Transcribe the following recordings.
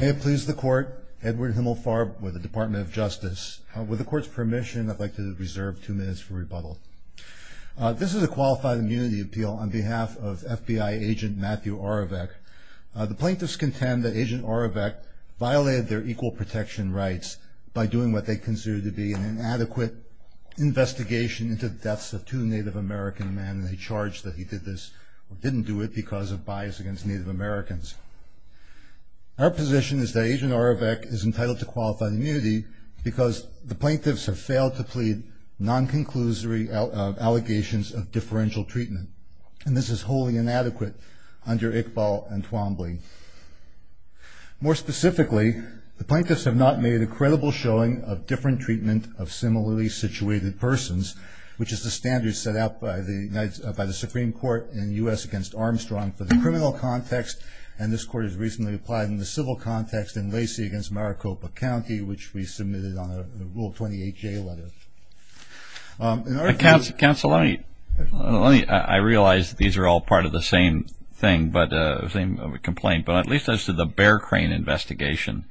May it please the Court, Edward Himmelfarb with the Department of Justice. With the Court's permission, I'd like to reserve two minutes for rebuttal. This is a Qualified Immunity Appeal on behalf of FBI Agent Matthew Oravec. The plaintiffs contend that Agent Oravec violated their equal protection rights by doing what they considered to be an inadequate investigation into the deaths of two Native American men, and they charge that he did this or didn't do it because of bias against Native Americans. Our position is that Agent Oravec is entitled to Qualified Immunity because the plaintiffs have failed to plead non-conclusory allegations of differential treatment, and this is wholly inadequate under Iqbal and Twombly. More specifically, the plaintiffs have not made a credible showing of different treatment of similarly situated persons, which is the standard set out by the Supreme Court in the U.S. against Armstrong for the criminal context, and this Court has recently applied in the civil context in Lacey against Maricopa County, which we submitted on a Rule 28J letter. Counsel, I realize these are all part of the same complaint, but at least as to the Bear Crane investigation,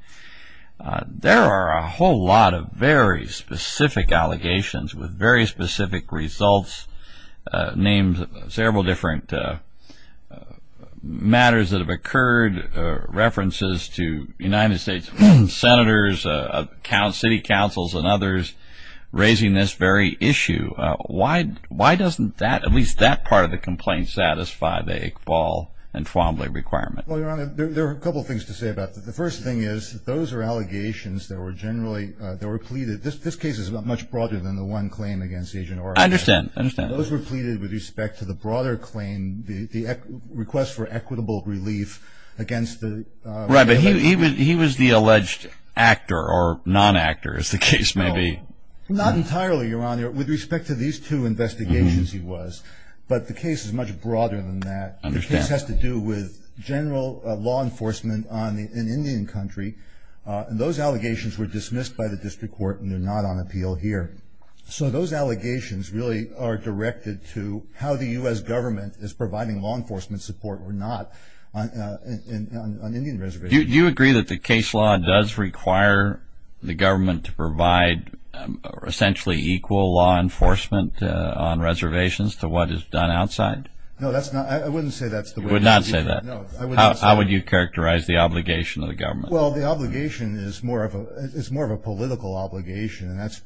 there are a whole lot of very specific allegations with very specific results named several different matters that have occurred, references to United States senators, city councils, and others raising this very issue. Why doesn't that, at least that part of the complaint, satisfy the Iqbal and Twombly requirement? Well, Your Honor, there are a couple of things to say about that. The first thing is that those are allegations that were generally pleaded. This case is much broader than the one claimed against Agent Oravec. I understand. I understand. Those were pleaded with respect to the broader claim, the request for equitable relief against the- Right, but he was the alleged actor or non-actor, as the case may be. Not entirely, Your Honor. With respect to these two investigations, he was. But the case is much broader than that. The case has to do with general law enforcement in Indian country, and those allegations were dismissed by the District Court, and they're not on appeal here. So those allegations really are directed to how the U.S. government is providing law enforcement support or not on Indian reservations. Do you agree that the case law does require the government to provide essentially equal law enforcement on reservations to what is done outside? No, that's not- I wouldn't say that's the way- You would not say that? No, I would not say- How would you characterize the obligation of the government? Well, the obligation is more of a political obligation, and that's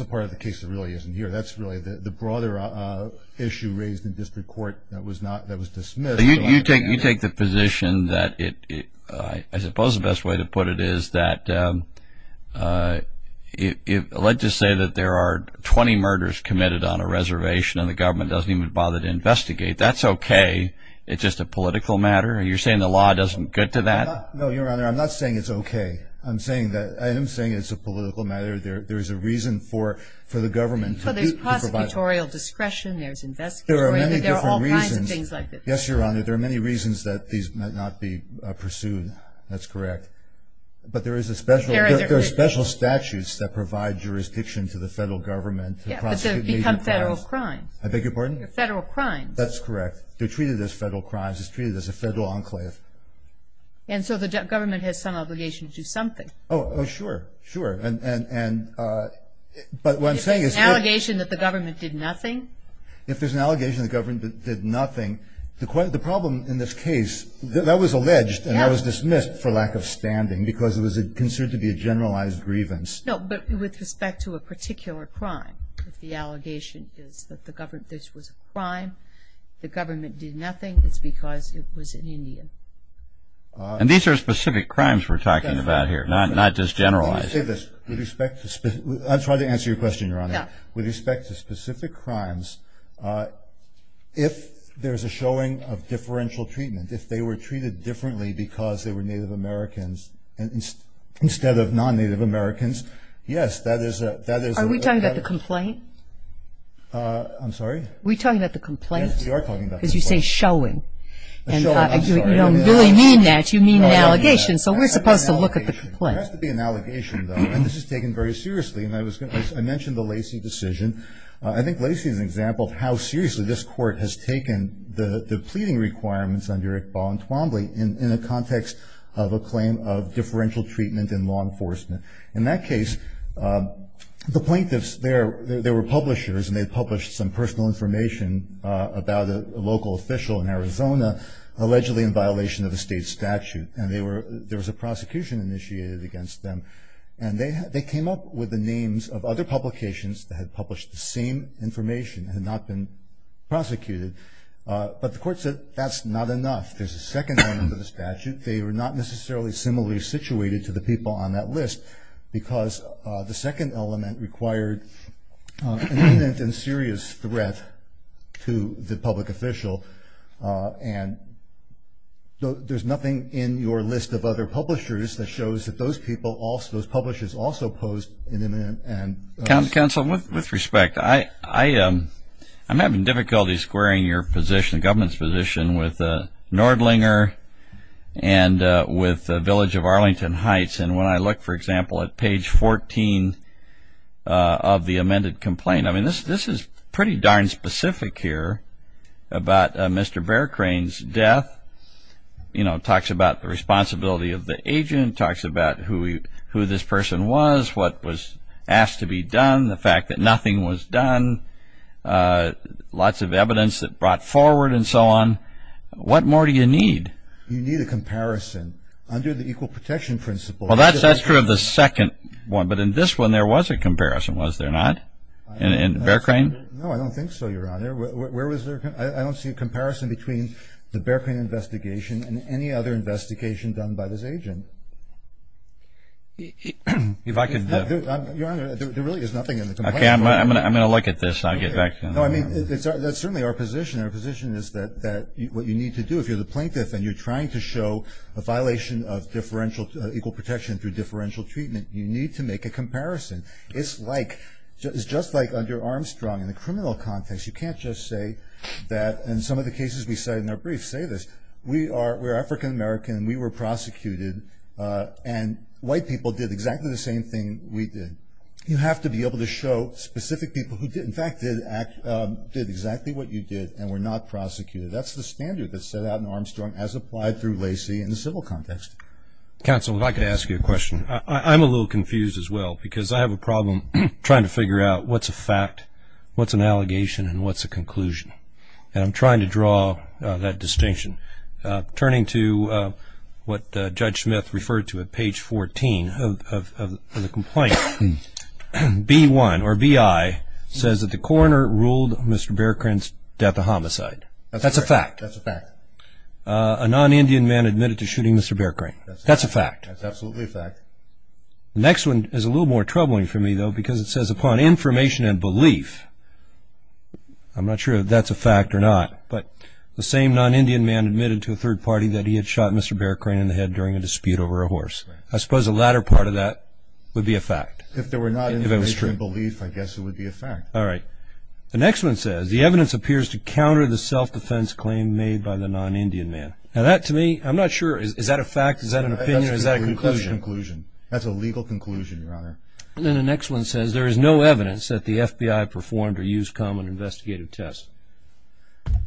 a part of the case that really isn't here. That's really the broader issue raised in District Court that was dismissed. You take the position that it- I suppose the best way to put it is that if- let's just say that there are 20 murders committed on a reservation and the government doesn't even bother to investigate, that's okay. It's just a political matter. Are you saying the law doesn't get to that? No, Your Honor. I'm not saying it's okay. I'm saying that- I am saying it's a political matter. There's a reason for the government to provide- So there's prosecutorial discretion, there's investigatory- There are many different reasons. There are all kinds of things like that. Yes, Your Honor. There are many reasons that these might not be pursued. That's correct. But there is a special- There are- There are special statutes that provide jurisdiction to the federal government- Yeah, but they become federal crimes. I beg your pardon? Federal crimes. That's correct. They're treated as federal crimes. It's treated as a federal enclave. And so the government has some obligation to do something. Oh, sure, sure. And- but what I'm saying is- If there's an allegation that the government did nothing- If there's an allegation that the government did nothing, the problem in this case- that was alleged and that was dismissed for lack of standing because it was considered to be a generalized grievance. No, but with respect to a particular crime, if the allegation is that this was a crime, the government did nothing, it's because it was an Indian. And these are specific crimes we're talking about here, not just generalized. Let me say this. With respect to- I'll try to answer your question, Your Honor. Yeah. With respect to specific crimes, if there's a showing of differential treatment, if they were treated differently because they were Native Americans instead of non-Native Americans, yes, that is a- Are we talking about the complaint? Are we talking about the complaint? Yes, we are talking about the complaint. Because you say showing. Showing, I'm sorry. You don't really mean that. No, I don't mean that. So we're supposed to look at the complaint. There has to be an allegation. There has to be an allegation, though. And this is taken very seriously. And I was going to- I mentioned the Lacey decision. I think Lacey is an example of how seriously this Court has taken the pleading requirements under Iqbal and Twombly in a context of a claim of differential treatment in law enforcement. In that case, the plaintiffs, they were publishers, and they published some personal information about a local official in Arizona allegedly in violation of a state statute. And there was a prosecution initiated against them. And they came up with the names of other publications that had published the same information and had not been prosecuted. But the Court said that's not enough. There's a second element of the statute. They were not necessarily similarly situated to the people on that list because the second element required an imminent and serious threat to the public official. And there's nothing in your list of other publishers that shows that those people, those publishers also posed an imminent and serious threat. Counsel, with respect, I'm having difficulty squaring your position, the government's position, with Nordlinger and with Village of Arlington Heights. And when I look, for example, at page 14 of the amended complaint, I mean, this is pretty darn specific here about Mr. Bear Crane's death. You know, it talks about the responsibility of the agent. It talks about who this person was, what was asked to be done, the fact that nothing was done, lots of evidence that brought forward and so on. What more do you need? You need a comparison. Under the equal protection principle. Well, that's true of the second one. But in this one there was a comparison, was there not? In Bear Crane? No, I don't think so, Your Honor. Where was there? I don't see a comparison between the Bear Crane investigation and any other investigation done by this agent. If I could. Your Honor, there really is nothing in the complaint. Okay, I'm going to look at this and I'll get back to you. No, I mean, that's certainly our position. Our position is that what you need to do if you're the plaintiff and you're trying to show a violation of equal protection through differential treatment, you need to make a comparison. It's just like under Armstrong in the criminal context. You can't just say that in some of the cases we cite in our briefs say this. We are African-American and we were prosecuted and white people did exactly the same thing we did. You have to be able to show specific people who, in fact, did exactly what you did and were not prosecuted. That's the standard that's set out in Armstrong as applied through Lacey in the civil context. Counsel, if I could ask you a question. I'm a little confused as well because I have a problem trying to figure out what's a fact, what's an allegation, and what's a conclusion. And I'm trying to draw that distinction. Turning to what Judge Smith referred to at page 14 of the complaint, B-1 or B-I says that the coroner ruled Mr. Bearcrain's death a homicide. That's a fact. That's a fact. A non-Indian man admitted to shooting Mr. Bearcrain. That's a fact. That's absolutely a fact. The next one is a little more troubling for me, though, because it says upon information and belief, I'm not sure if that's a fact or not, but the same non-Indian man admitted to a third party that he had shot Mr. Bearcrain in the head during a dispute over a horse. I suppose the latter part of that would be a fact. If there were not information and belief, I guess it would be a fact. All right. The next one says the evidence appears to counter the self-defense claim made by the non-Indian man. Now, that to me, I'm not sure. Is that a fact? Is that an opinion? Is that a conclusion? That's a conclusion. That's a legal conclusion, Your Honor. Then the next one says there is no evidence that the FBI performed or used common investigative tests.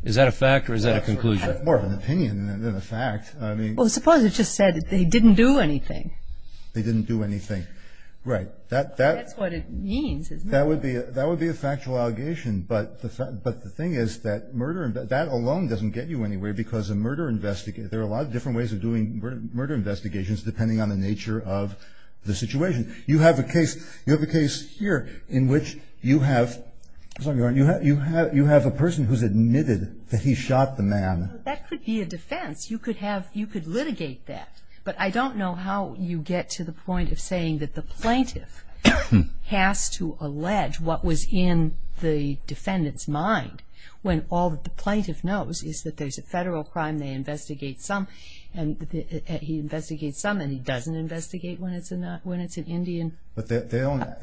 Is that a fact or is that a conclusion? I have more of an opinion than a fact. Well, suppose it just said that they didn't do anything. They didn't do anything. Right. That's what it means, isn't it? That would be a factual allegation, but the thing is that murder – that alone doesn't get you anywhere because a murder – there are a lot of different ways of doing murder investigations depending on the nature of the situation. You have a case – you have a case here in which you have – I'm sorry, Your Honor. You have a person who's admitted that he shot the man. That could be a defense. You could have – you could litigate that, but I don't know how you get to the point of saying that the plaintiff has to allege what was in the defendant's mind when all that the plaintiff knows is that there's a federal crime, they investigate some, and he investigates some, and he doesn't investigate when it's an Indian. But they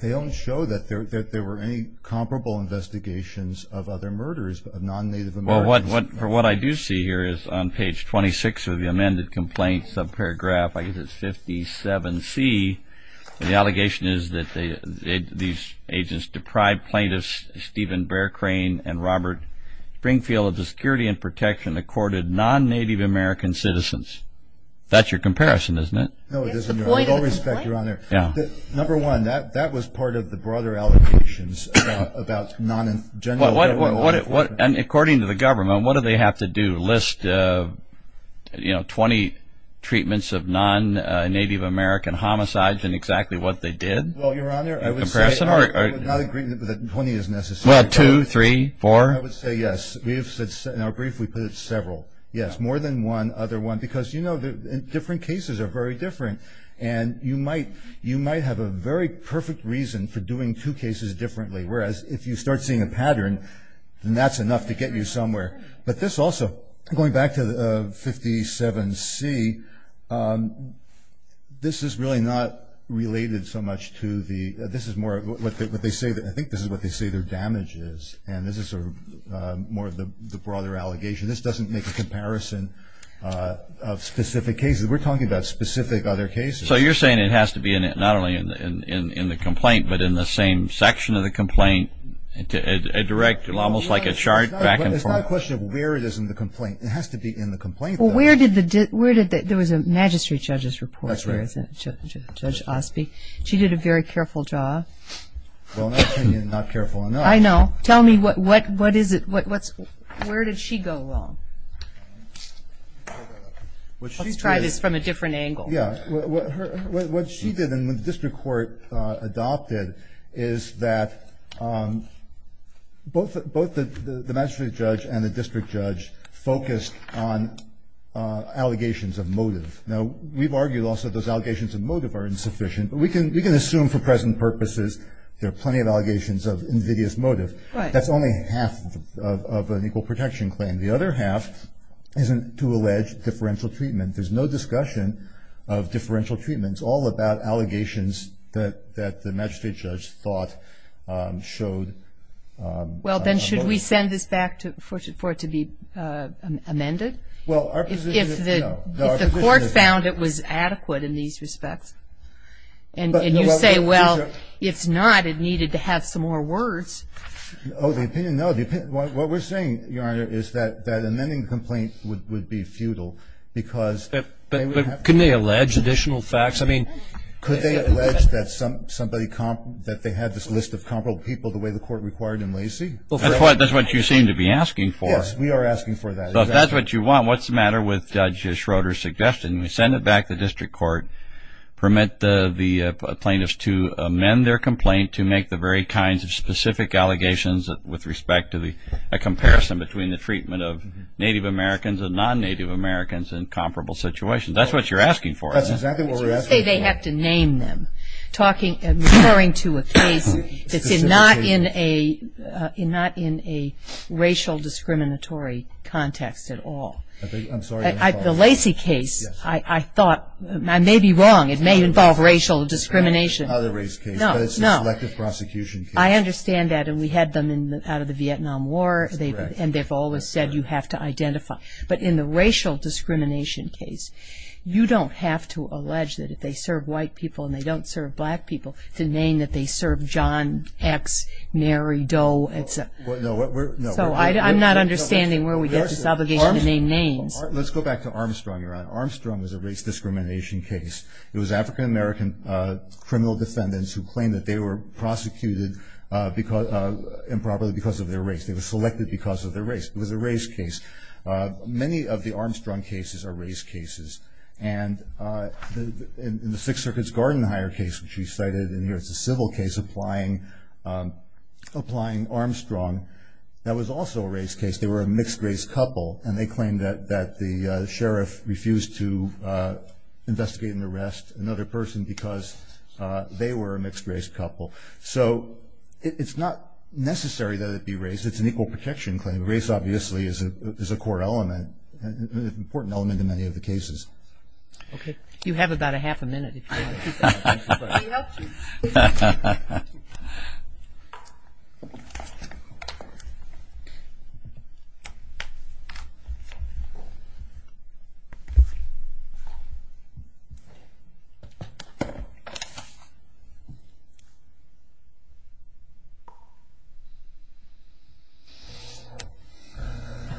don't show that there were any comparable investigations of other murders, of non-Native Americans. Well, what I do see here is on page 26 of the amended complaint subparagraph, I guess it's 57C, the allegation is that these agents deprived plaintiffs Stephen Bear Crane and Robert Springfield of the security and protection accorded non-Native American citizens. That's your comparison, isn't it? No, it isn't, Your Honor. With all respect, Your Honor. And according to the government, what do they have to do? List, you know, 20 treatments of non-Native American homicides and exactly what they did? Well, Your Honor, I would say I would not agree that 20 is necessary. Well, two, three, four? I would say yes. In our brief, we put it several. Yes, more than one other one because, you know, different cases are very different, and you might have a very perfect reason for doing two cases differently, whereas if you start seeing a pattern, then that's enough to get you somewhere. But this also, going back to 57C, this is really not related so much to the – this is more what they say – I think this is what they say their damage is, and this is sort of more of the broader allegation. This doesn't make a comparison of specific cases. We're talking about specific other cases. So you're saying it has to be not only in the complaint but in the same section of the complaint, a direct – almost like a chart back and forth? It's not a question of where it is in the complaint. It has to be in the complaint. Well, where did the – there was a magistrate judge's report. That's right. Judge Osby. She did a very careful job. Well, in that opinion, not careful enough. I know. Tell me what is it – where did she go wrong? Let's try this from a different angle. Yeah. What she did and what the district court adopted is that both the magistrate judge and the district judge focused on allegations of motive. Now, we've argued also those allegations of motive are insufficient, but we can assume for present purposes there are plenty of allegations of invidious motive. Right. That's only half of an equal protection claim. The other half isn't to allege differential treatment. There's no discussion of differential treatment. It's all about allegations that the magistrate judge thought showed motive. Well, then should we send this back for it to be amended? Well, our position is no. If the court found it was adequate in these respects and you say, well, if not, it needed to have some more words. Oh, the opinion? No, the opinion – what we're saying, Your Honor, is that amending the complaint would be futile because – But couldn't they allege additional facts? I mean – Could they allege that somebody – that they had this list of comparable people the way the court required in Lacey? That's what you seem to be asking for. Yes, we are asking for that. If that's what you want, what's the matter with Judge Schroeder's suggestion? We send it back to the district court, permit the plaintiffs to amend their complaint to make the very kinds of specific allegations with respect to a comparison between the treatment of Native Americans and non-Native Americans in comparable situations. That's what you're asking for. That's exactly what we're asking for. You say they have to name them, referring to a case that's not in a racial discriminatory context at all. I'm sorry. The Lacey case, I thought – I may be wrong. It may involve racial discrimination. Other race cases. No, no. But it's a selective prosecution case. I understand that, and we had them out of the Vietnam War, and they've always said you have to identify. But in the racial discrimination case, you don't have to allege that if they serve white people and they don't serve black people, to name that they serve John X, Mary Doe. So I'm not understanding where we get this obligation to name names. Let's go back to Armstrong, Your Honor. Armstrong was a race discrimination case. It was African-American criminal defendants who claimed that they were prosecuted improperly because of their race. They were selected because of their race. It was a race case. Many of the Armstrong cases are race cases. And in the Sixth Circuit's Gardenhire case, which we cited in here, it's a civil case applying Armstrong. That was also a race case. They were a mixed-race couple, and they claimed that the sheriff refused to investigate and arrest another person because they were a mixed-race couple. So it's not necessary that it be race. It's an equal protection claim. Race, obviously, is a core element, an important element in many of the cases. Okay. You have about a half a minute. We helped you.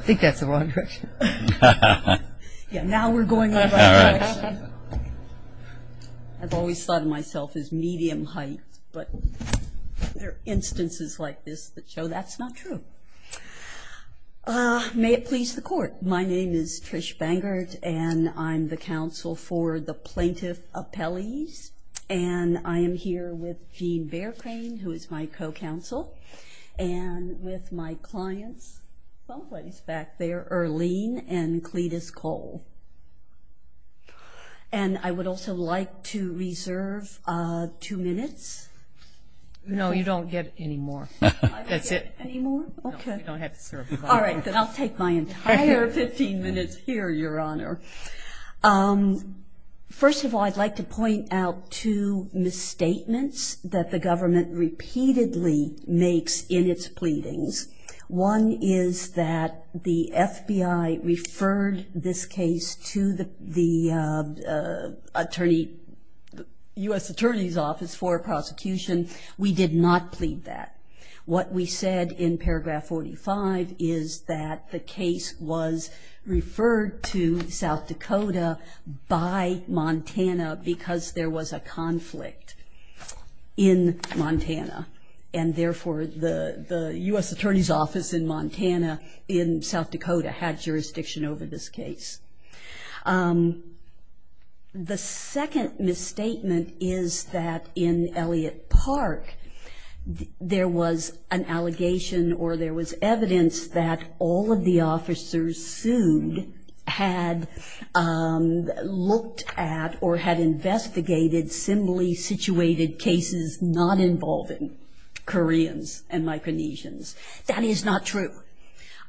I think that's the wrong direction. Yeah, now we're going over to Armstrong. I've always thought of myself as medium height, but there are instances like this that show that's not true. May it please the Court. My name is Trish Bangert, and I'm the counsel for the Plaintiff Appellees. And I am here with Gene Bearcane, who is my co-counsel, and with my clients someplace back there, Earlene and Cletus Cole. And I would also like to reserve two minutes. No, you don't get any more. That's it. I don't get any more? Okay. No, you don't have to serve. All right, then I'll take my entire 15 minutes here, Your Honor. First of all, I'd like to point out two misstatements that the government repeatedly makes in its pleadings. One is that the FBI referred this case to the U.S. Attorney's Office for prosecution. We did not plead that. What we said in paragraph 45 is that the case was referred to South Dakota by Montana because there was a conflict in Montana. And therefore, the U.S. Attorney's Office in Montana, in South Dakota, had jurisdiction over this case. The second misstatement is that in Elliott Park, there was an allegation or there was evidence that all of the officers sued had looked at or had investigated similarly situated cases not involving Koreans and Micronesians. That is not true.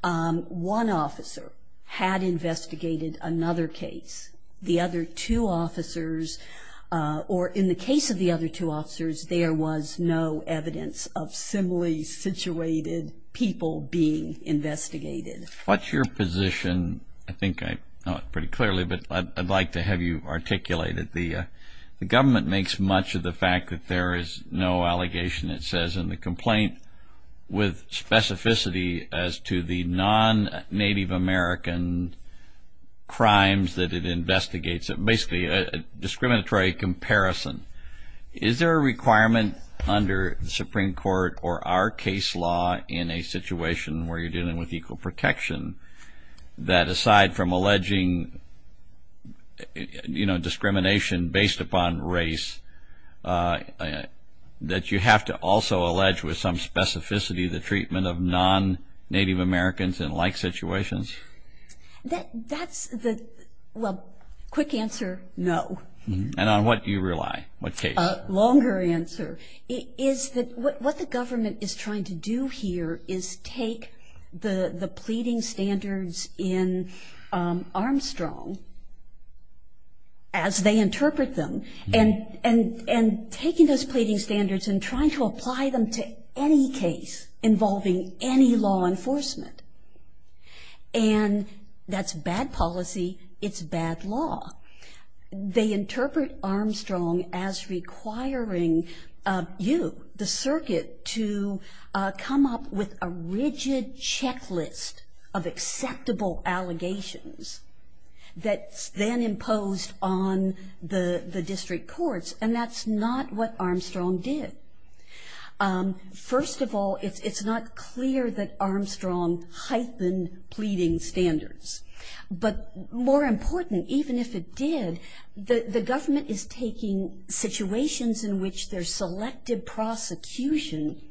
One officer had investigated another case. The other two officers or in the case of the other two officers, there was no evidence of similarly situated people being investigated. What's your position? I think I know it pretty clearly, but I'd like to have you articulate it. The government makes much of the fact that there is no allegation, it says, in the complaint with specificity as to the non-Native American crimes that it investigates. It's basically a discriminatory comparison. Is there a requirement under the Supreme Court or our case law in a situation where you're dealing with equal protection that aside from alleging, you know, discrimination based upon race, that you have to also allege with some specificity the treatment of non-Native Americans in like situations? That's the, well, quick answer, no. And on what do you rely? A longer answer. Is that what the government is trying to do here is take the pleading standards in Armstrong, as they interpret them, and taking those pleading standards and trying to apply them to any case involving any law enforcement. And that's bad policy. It's bad law. They interpret Armstrong as requiring you, the circuit, to come up with a rigid checklist of acceptable allegations that's then imposed on the district courts, and that's not what Armstrong did. First of all, it's not clear that Armstrong heightened pleading standards. But more important, even if it did, the government is taking situations in which there's selective prosecution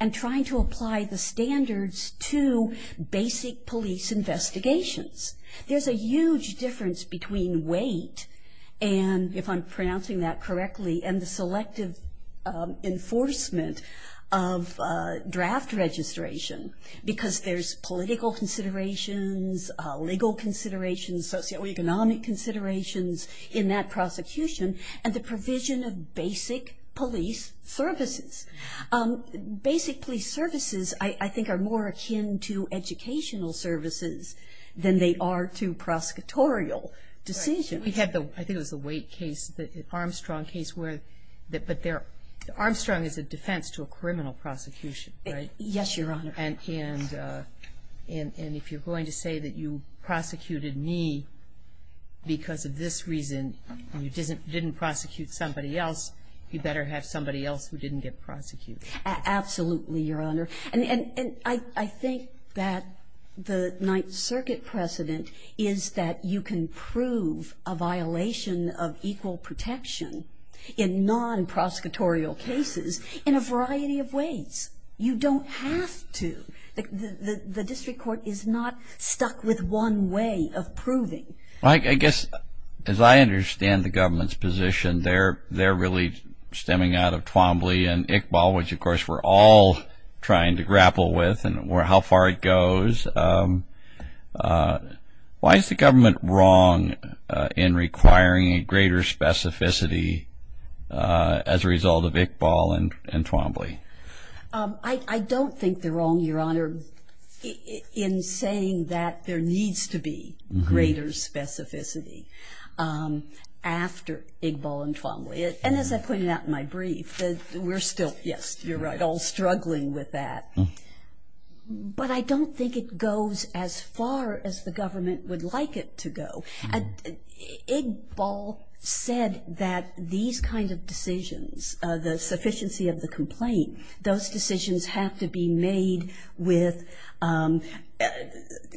and trying to apply the standards to basic police investigations. There's a huge difference between weight and, if I'm pronouncing that correctly, and the selective enforcement of draft registration, because there's political considerations, legal considerations, socioeconomic considerations in that prosecution, and the provision of basic police services. Basic police services, I think, are more akin to educational services than they are to prosecutorial decisions. We had the, I think it was the weight case, the Armstrong case, where, but Armstrong is a defense to a criminal prosecution, right? Yes, Your Honor. And if you're going to say that you prosecuted me because of this reason and you didn't prosecute somebody else, you better have somebody else who didn't get prosecuted. Absolutely, Your Honor. And I think that the Ninth Circuit precedent is that you can prove a violation of equal protection in non-prosecutorial cases in a variety of ways. You don't have to. The district court is not stuck with one way of proving. I guess, as I understand the government's position, they're really stemming out of Twombly and Iqbal, which, of course, we're all trying to grapple with and how far it goes. Why is the government wrong in requiring a greater specificity as a result of Iqbal and Twombly? I don't think they're wrong, Your Honor, in saying that there needs to be greater specificity after Iqbal and Twombly. And as I pointed out in my brief, we're still, yes, you're right, all struggling with that. But I don't think it goes as far as the government would like it to go. Iqbal said that these kinds of decisions, the sufficiency of the complaint, those decisions have to be made with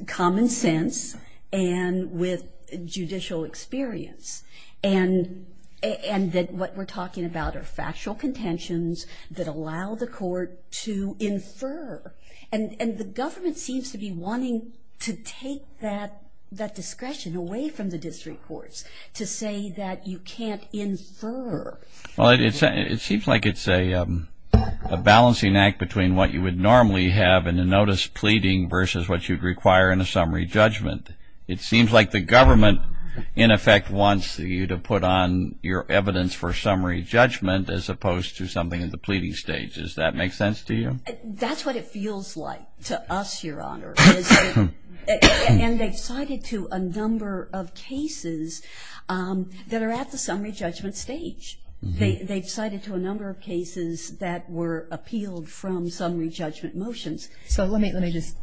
common sense and with judicial experience. And that what we're talking about are factual contentions that allow the court to infer. And the government seems to be wanting to take that discretion away from the district courts to say that you can't infer. Well, it seems like it's a balancing act between what you would normally have in a notice pleading versus what you'd require in a summary judgment. It seems like the government in effect wants you to put on your evidence for summary judgment as opposed to something in the pleading stage. Does that make sense to you? That's what it feels like to us, Your Honor. And they've cited to a number of cases that are at the summary judgment stage. They've cited to a number of cases that were appealed from summary judgment motions. So let me just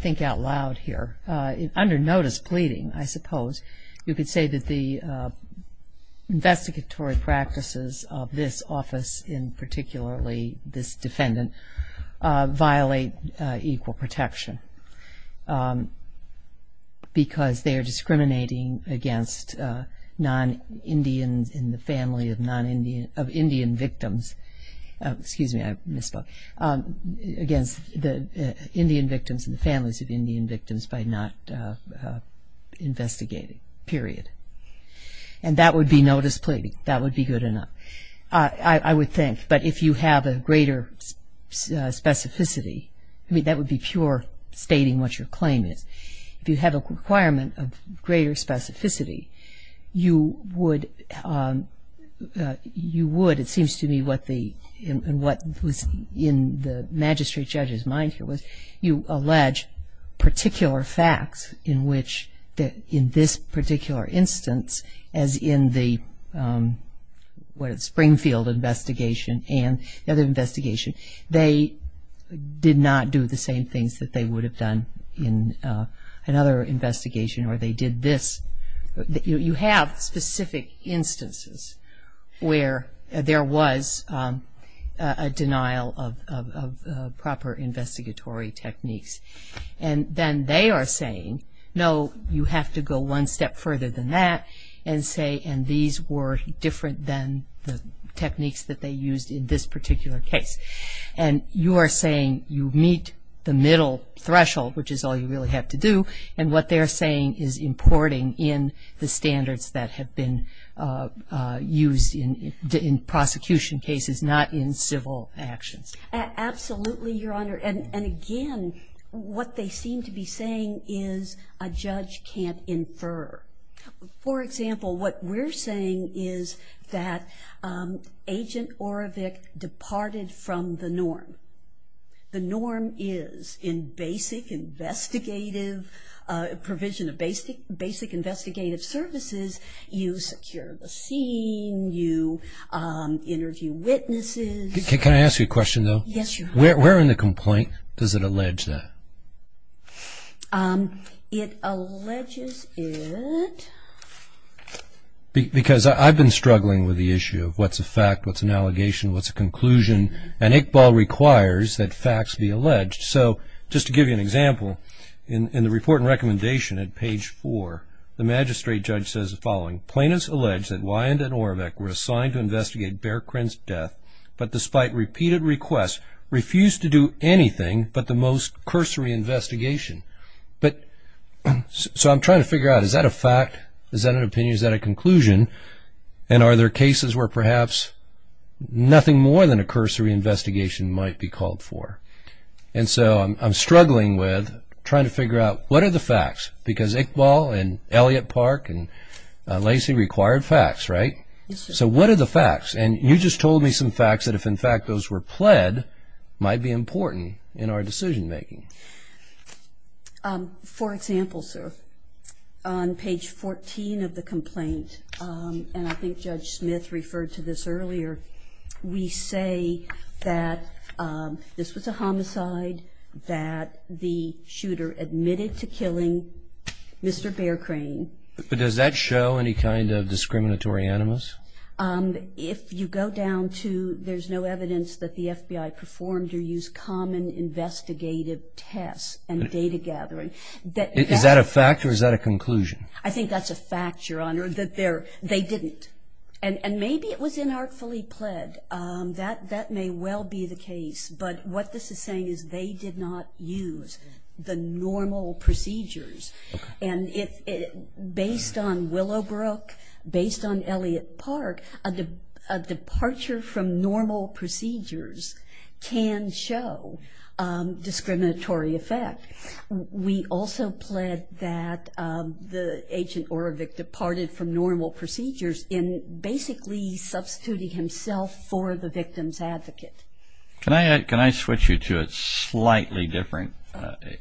think out loud here. Under notice pleading, I suppose, you could say that the investigatory practices of this office and particularly this defendant violate equal protection because they are discriminating against non-Indians in the family of Indian victims. Excuse me, I misspoke. Against the Indian victims and the families of Indian victims by not investigating, period. And that would be notice pleading. That would be good enough, I would think. But if you have a greater specificity, I mean, that would be pure stating what your claim is. If you have a requirement of greater specificity, you would, it seems to me, what was in the magistrate judge's mind here was you allege particular facts in which in this particular instance as in the Springfield investigation and the other investigation, they did not do the same things that they would have done in another investigation or they did this. You have specific instances where there was a denial of proper investigatory techniques. And then they are saying, no, you have to go one step further than that and say, and these were different than the techniques that they used in this particular case. And you are saying you meet the middle threshold, which is all you really have to do, and what they are saying is importing in the standards that have been used in prosecution cases, not in civil actions. Absolutely, Your Honor. And again, what they seem to be saying is a judge can't infer. For example, what we're saying is that Agent Orovick departed from the norm. The norm is in basic investigative provision of basic investigative services, you secure the scene, you interview witnesses. Can I ask you a question, though? Yes, Your Honor. Where in the complaint does it allege that? It alleges it. Because I've been struggling with the issue of what's a fact, what's an allegation, what's a conclusion, and Iqbal requires that facts be alleged. So just to give you an example, in the report and recommendation at page four, the magistrate judge says the following. Plaintiffs allege that Wyand and Orovick were assigned to investigate Bearcren's death, but despite repeated requests, refused to do anything but the most cursory investigation. So I'm trying to figure out, is that a fact? Is that an opinion? Is that a conclusion? And are there cases where perhaps nothing more than a cursory investigation might be called for? And so I'm struggling with trying to figure out what are the facts? Because Iqbal and Elliott Park and Lacey required facts, right? So what are the facts? And you just told me some facts that if, in fact, those were pled, might be important in our decision-making. For example, sir, on page 14 of the complaint, and I think Judge Smith referred to this earlier, we say that this was a homicide, that the shooter admitted to killing Mr. Bearcren. But does that show any kind of discriminatory animus? If you go down to there's no evidence that the FBI performed or used common investigative tests and data gathering. Is that a fact or is that a conclusion? I think that's a fact, Your Honor, that they didn't. And maybe it was inartfully pled. That may well be the case. But what this is saying is they did not use the normal procedures. And based on Willowbrook, based on Elliott Park, a departure from normal procedures can show discriminatory effect. We also pled that the agent departed from normal procedures in basically substituting himself for the victim's advocate. Can I switch you to a slightly different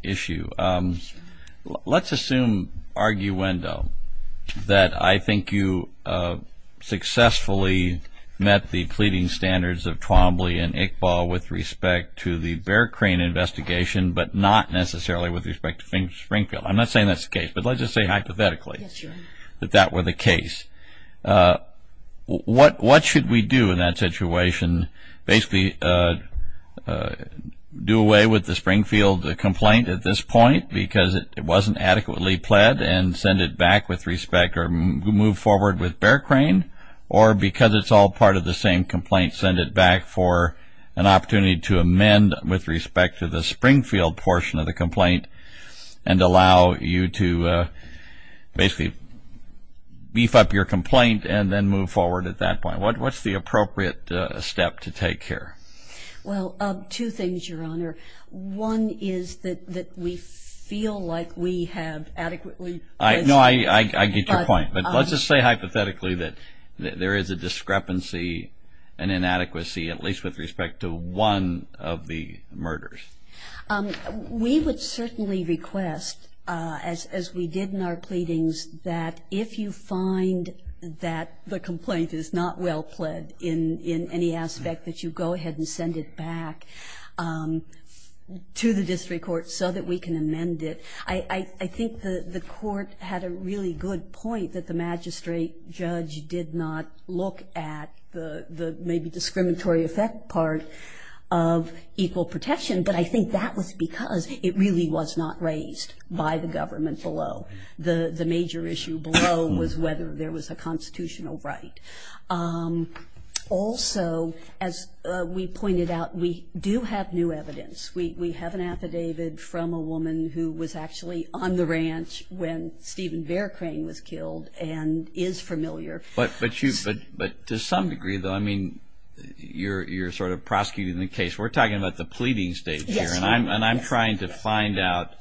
issue? Let's assume, arguendo, that I think you successfully met the pleading standards of Twombly and Iqbal with respect to the Bearcren investigation, but not necessarily with respect to Springfield. I'm not saying that's the case, but let's just say hypothetically that that were the case. What should we do in that situation? Basically do away with the Springfield complaint at this point because it wasn't adequately pled and send it back with respect or move forward with Bearcren, or because it's all part of the same complaint, send it back for an opportunity to amend with respect to the Springfield portion of the complaint and allow you to basically beef up your complaint and then move forward at that point. What's the appropriate step to take here? Well, two things, Your Honor. One is that we feel like we have adequately... No, I get your point. But let's just say hypothetically that there is a discrepancy, an inadequacy, at least with respect to one of the murders. We would certainly request, as we did in our pleadings, that if you find that the complaint is not well pled in any aspect, that you go ahead and send it back to the district court so that we can amend it. I think the court had a really good point that the magistrate judge did not look at the maybe discriminatory effect part of equal protection, but I think that was because it really was not raised by the government below. The major issue below was whether there was a constitutional right. Also, as we pointed out, we do have new evidence. We have an affidavit from a woman who was actually on the ranch when Stephen Bearcren was killed and is familiar. But to some degree, though, I mean, you're sort of prosecuting the case. We're talking about the pleading stage here, and I'm trying to find out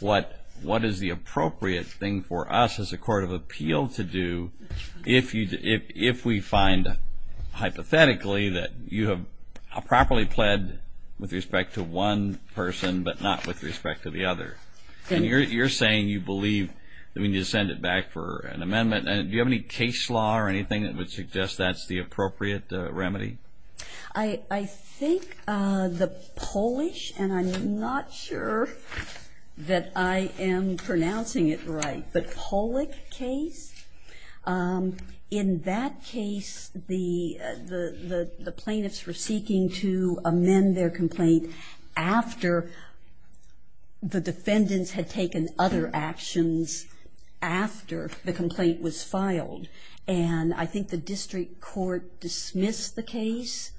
what is the appropriate thing for us as a court of appeal to do if we find hypothetically that you have properly pled with respect to one person but not with respect to the other. And you're saying you believe that we need to send it back for an amendment. Do you have any case law or anything that would suggest that's the appropriate remedy? I think the Polish, and I'm not sure that I am pronouncing it right, but Polak case, in that case the plaintiffs were seeking to amend their complaint after the defendants had taken other actions after the complaint was filed. And I think the district court dismissed the case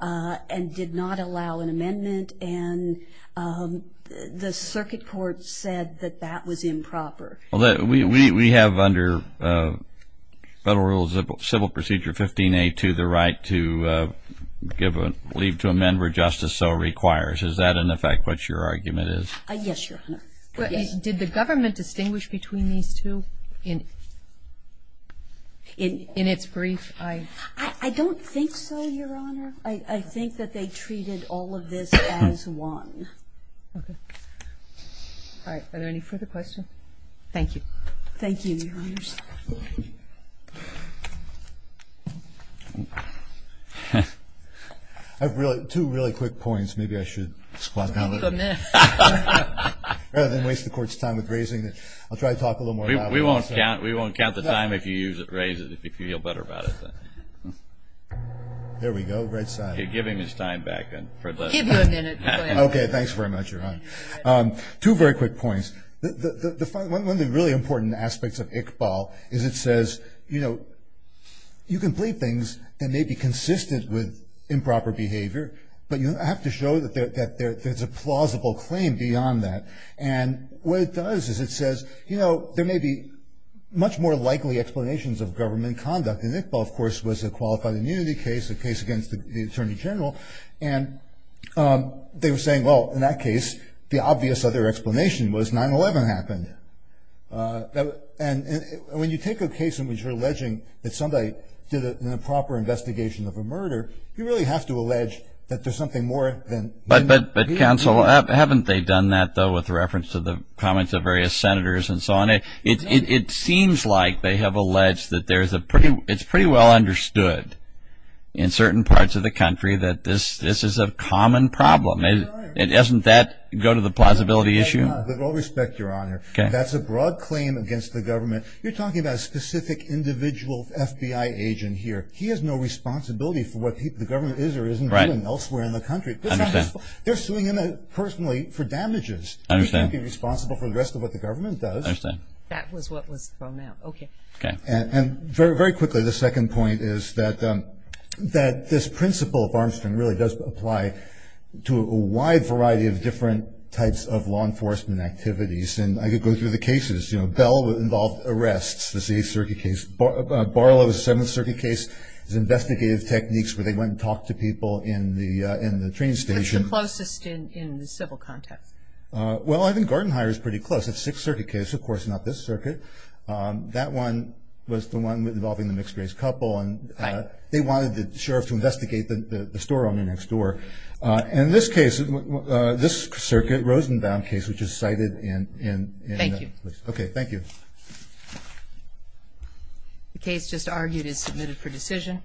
and did not allow an amendment, and the circuit court said that that was improper. We have under Federal Rules of Civil Procedure 15A2 the right to leave to amend where justice so requires. Is that, in effect, what your argument is? Yes, Your Honor. Did the government distinguish between these two in its brief? I don't think so, Your Honor. I think that they treated all of this as one. Okay. All right. Are there any further questions? Thank you. Thank you, Your Honor. I have two really quick points. Maybe I should squat down a little bit rather than waste the Court's time with raising it. I'll try to talk a little more about it. We won't count the time if you raise it, if you feel better about it. There we go, right side. Give him his time back. I'll give you a minute. Okay, thanks very much, Your Honor. Two very quick points. One of the really important aspects of Iqbal is it says, you know, you can plead things that may be consistent with improper behavior, but you have to show that there's a plausible claim beyond that. And what it does is it says, you know, there may be much more likely explanations of government conduct. And Iqbal, of course, was a qualified immunity case, a case against the Attorney General. And they were saying, well, in that case, the obvious other explanation was 9-11 happened. And when you take a case in which you're alleging that somebody did an improper investigation of a murder, you really have to allege that there's something more than that. But, Counsel, haven't they done that, though, with reference to the comments of various senators and so on? It seems like they have alleged that there's a pretty – it's pretty well understood in certain parts of the country that this is a common problem. Doesn't that go to the plausibility issue? With all respect, Your Honor, that's a broad claim against the government. You're talking about a specific individual FBI agent here. He has no responsibility for what the government is or isn't doing elsewhere in the country. They're suing him personally for damages. He can't be responsible for the rest of what the government does. That was what was thrown out. Okay. And very quickly, the second point is that this principle of Armstrong really does apply to a wide variety of different types of law enforcement activities. And I could go through the cases. You know, Bell involved arrests, this Eighth Circuit case. Barlow's Seventh Circuit case is investigative techniques, where they went and talked to people in the train station. What's the closest in the civil context? Well, I think Gartenheuer is pretty close. It's Sixth Circuit case, of course, not this circuit. That one was the one involving the mixed-race couple. Right. And they wanted the sheriff to investigate the store on the next door. And this case, this circuit, Rosenbaum case, which is cited in – Thank you. Okay, thank you. The case just argued is submitted for decision.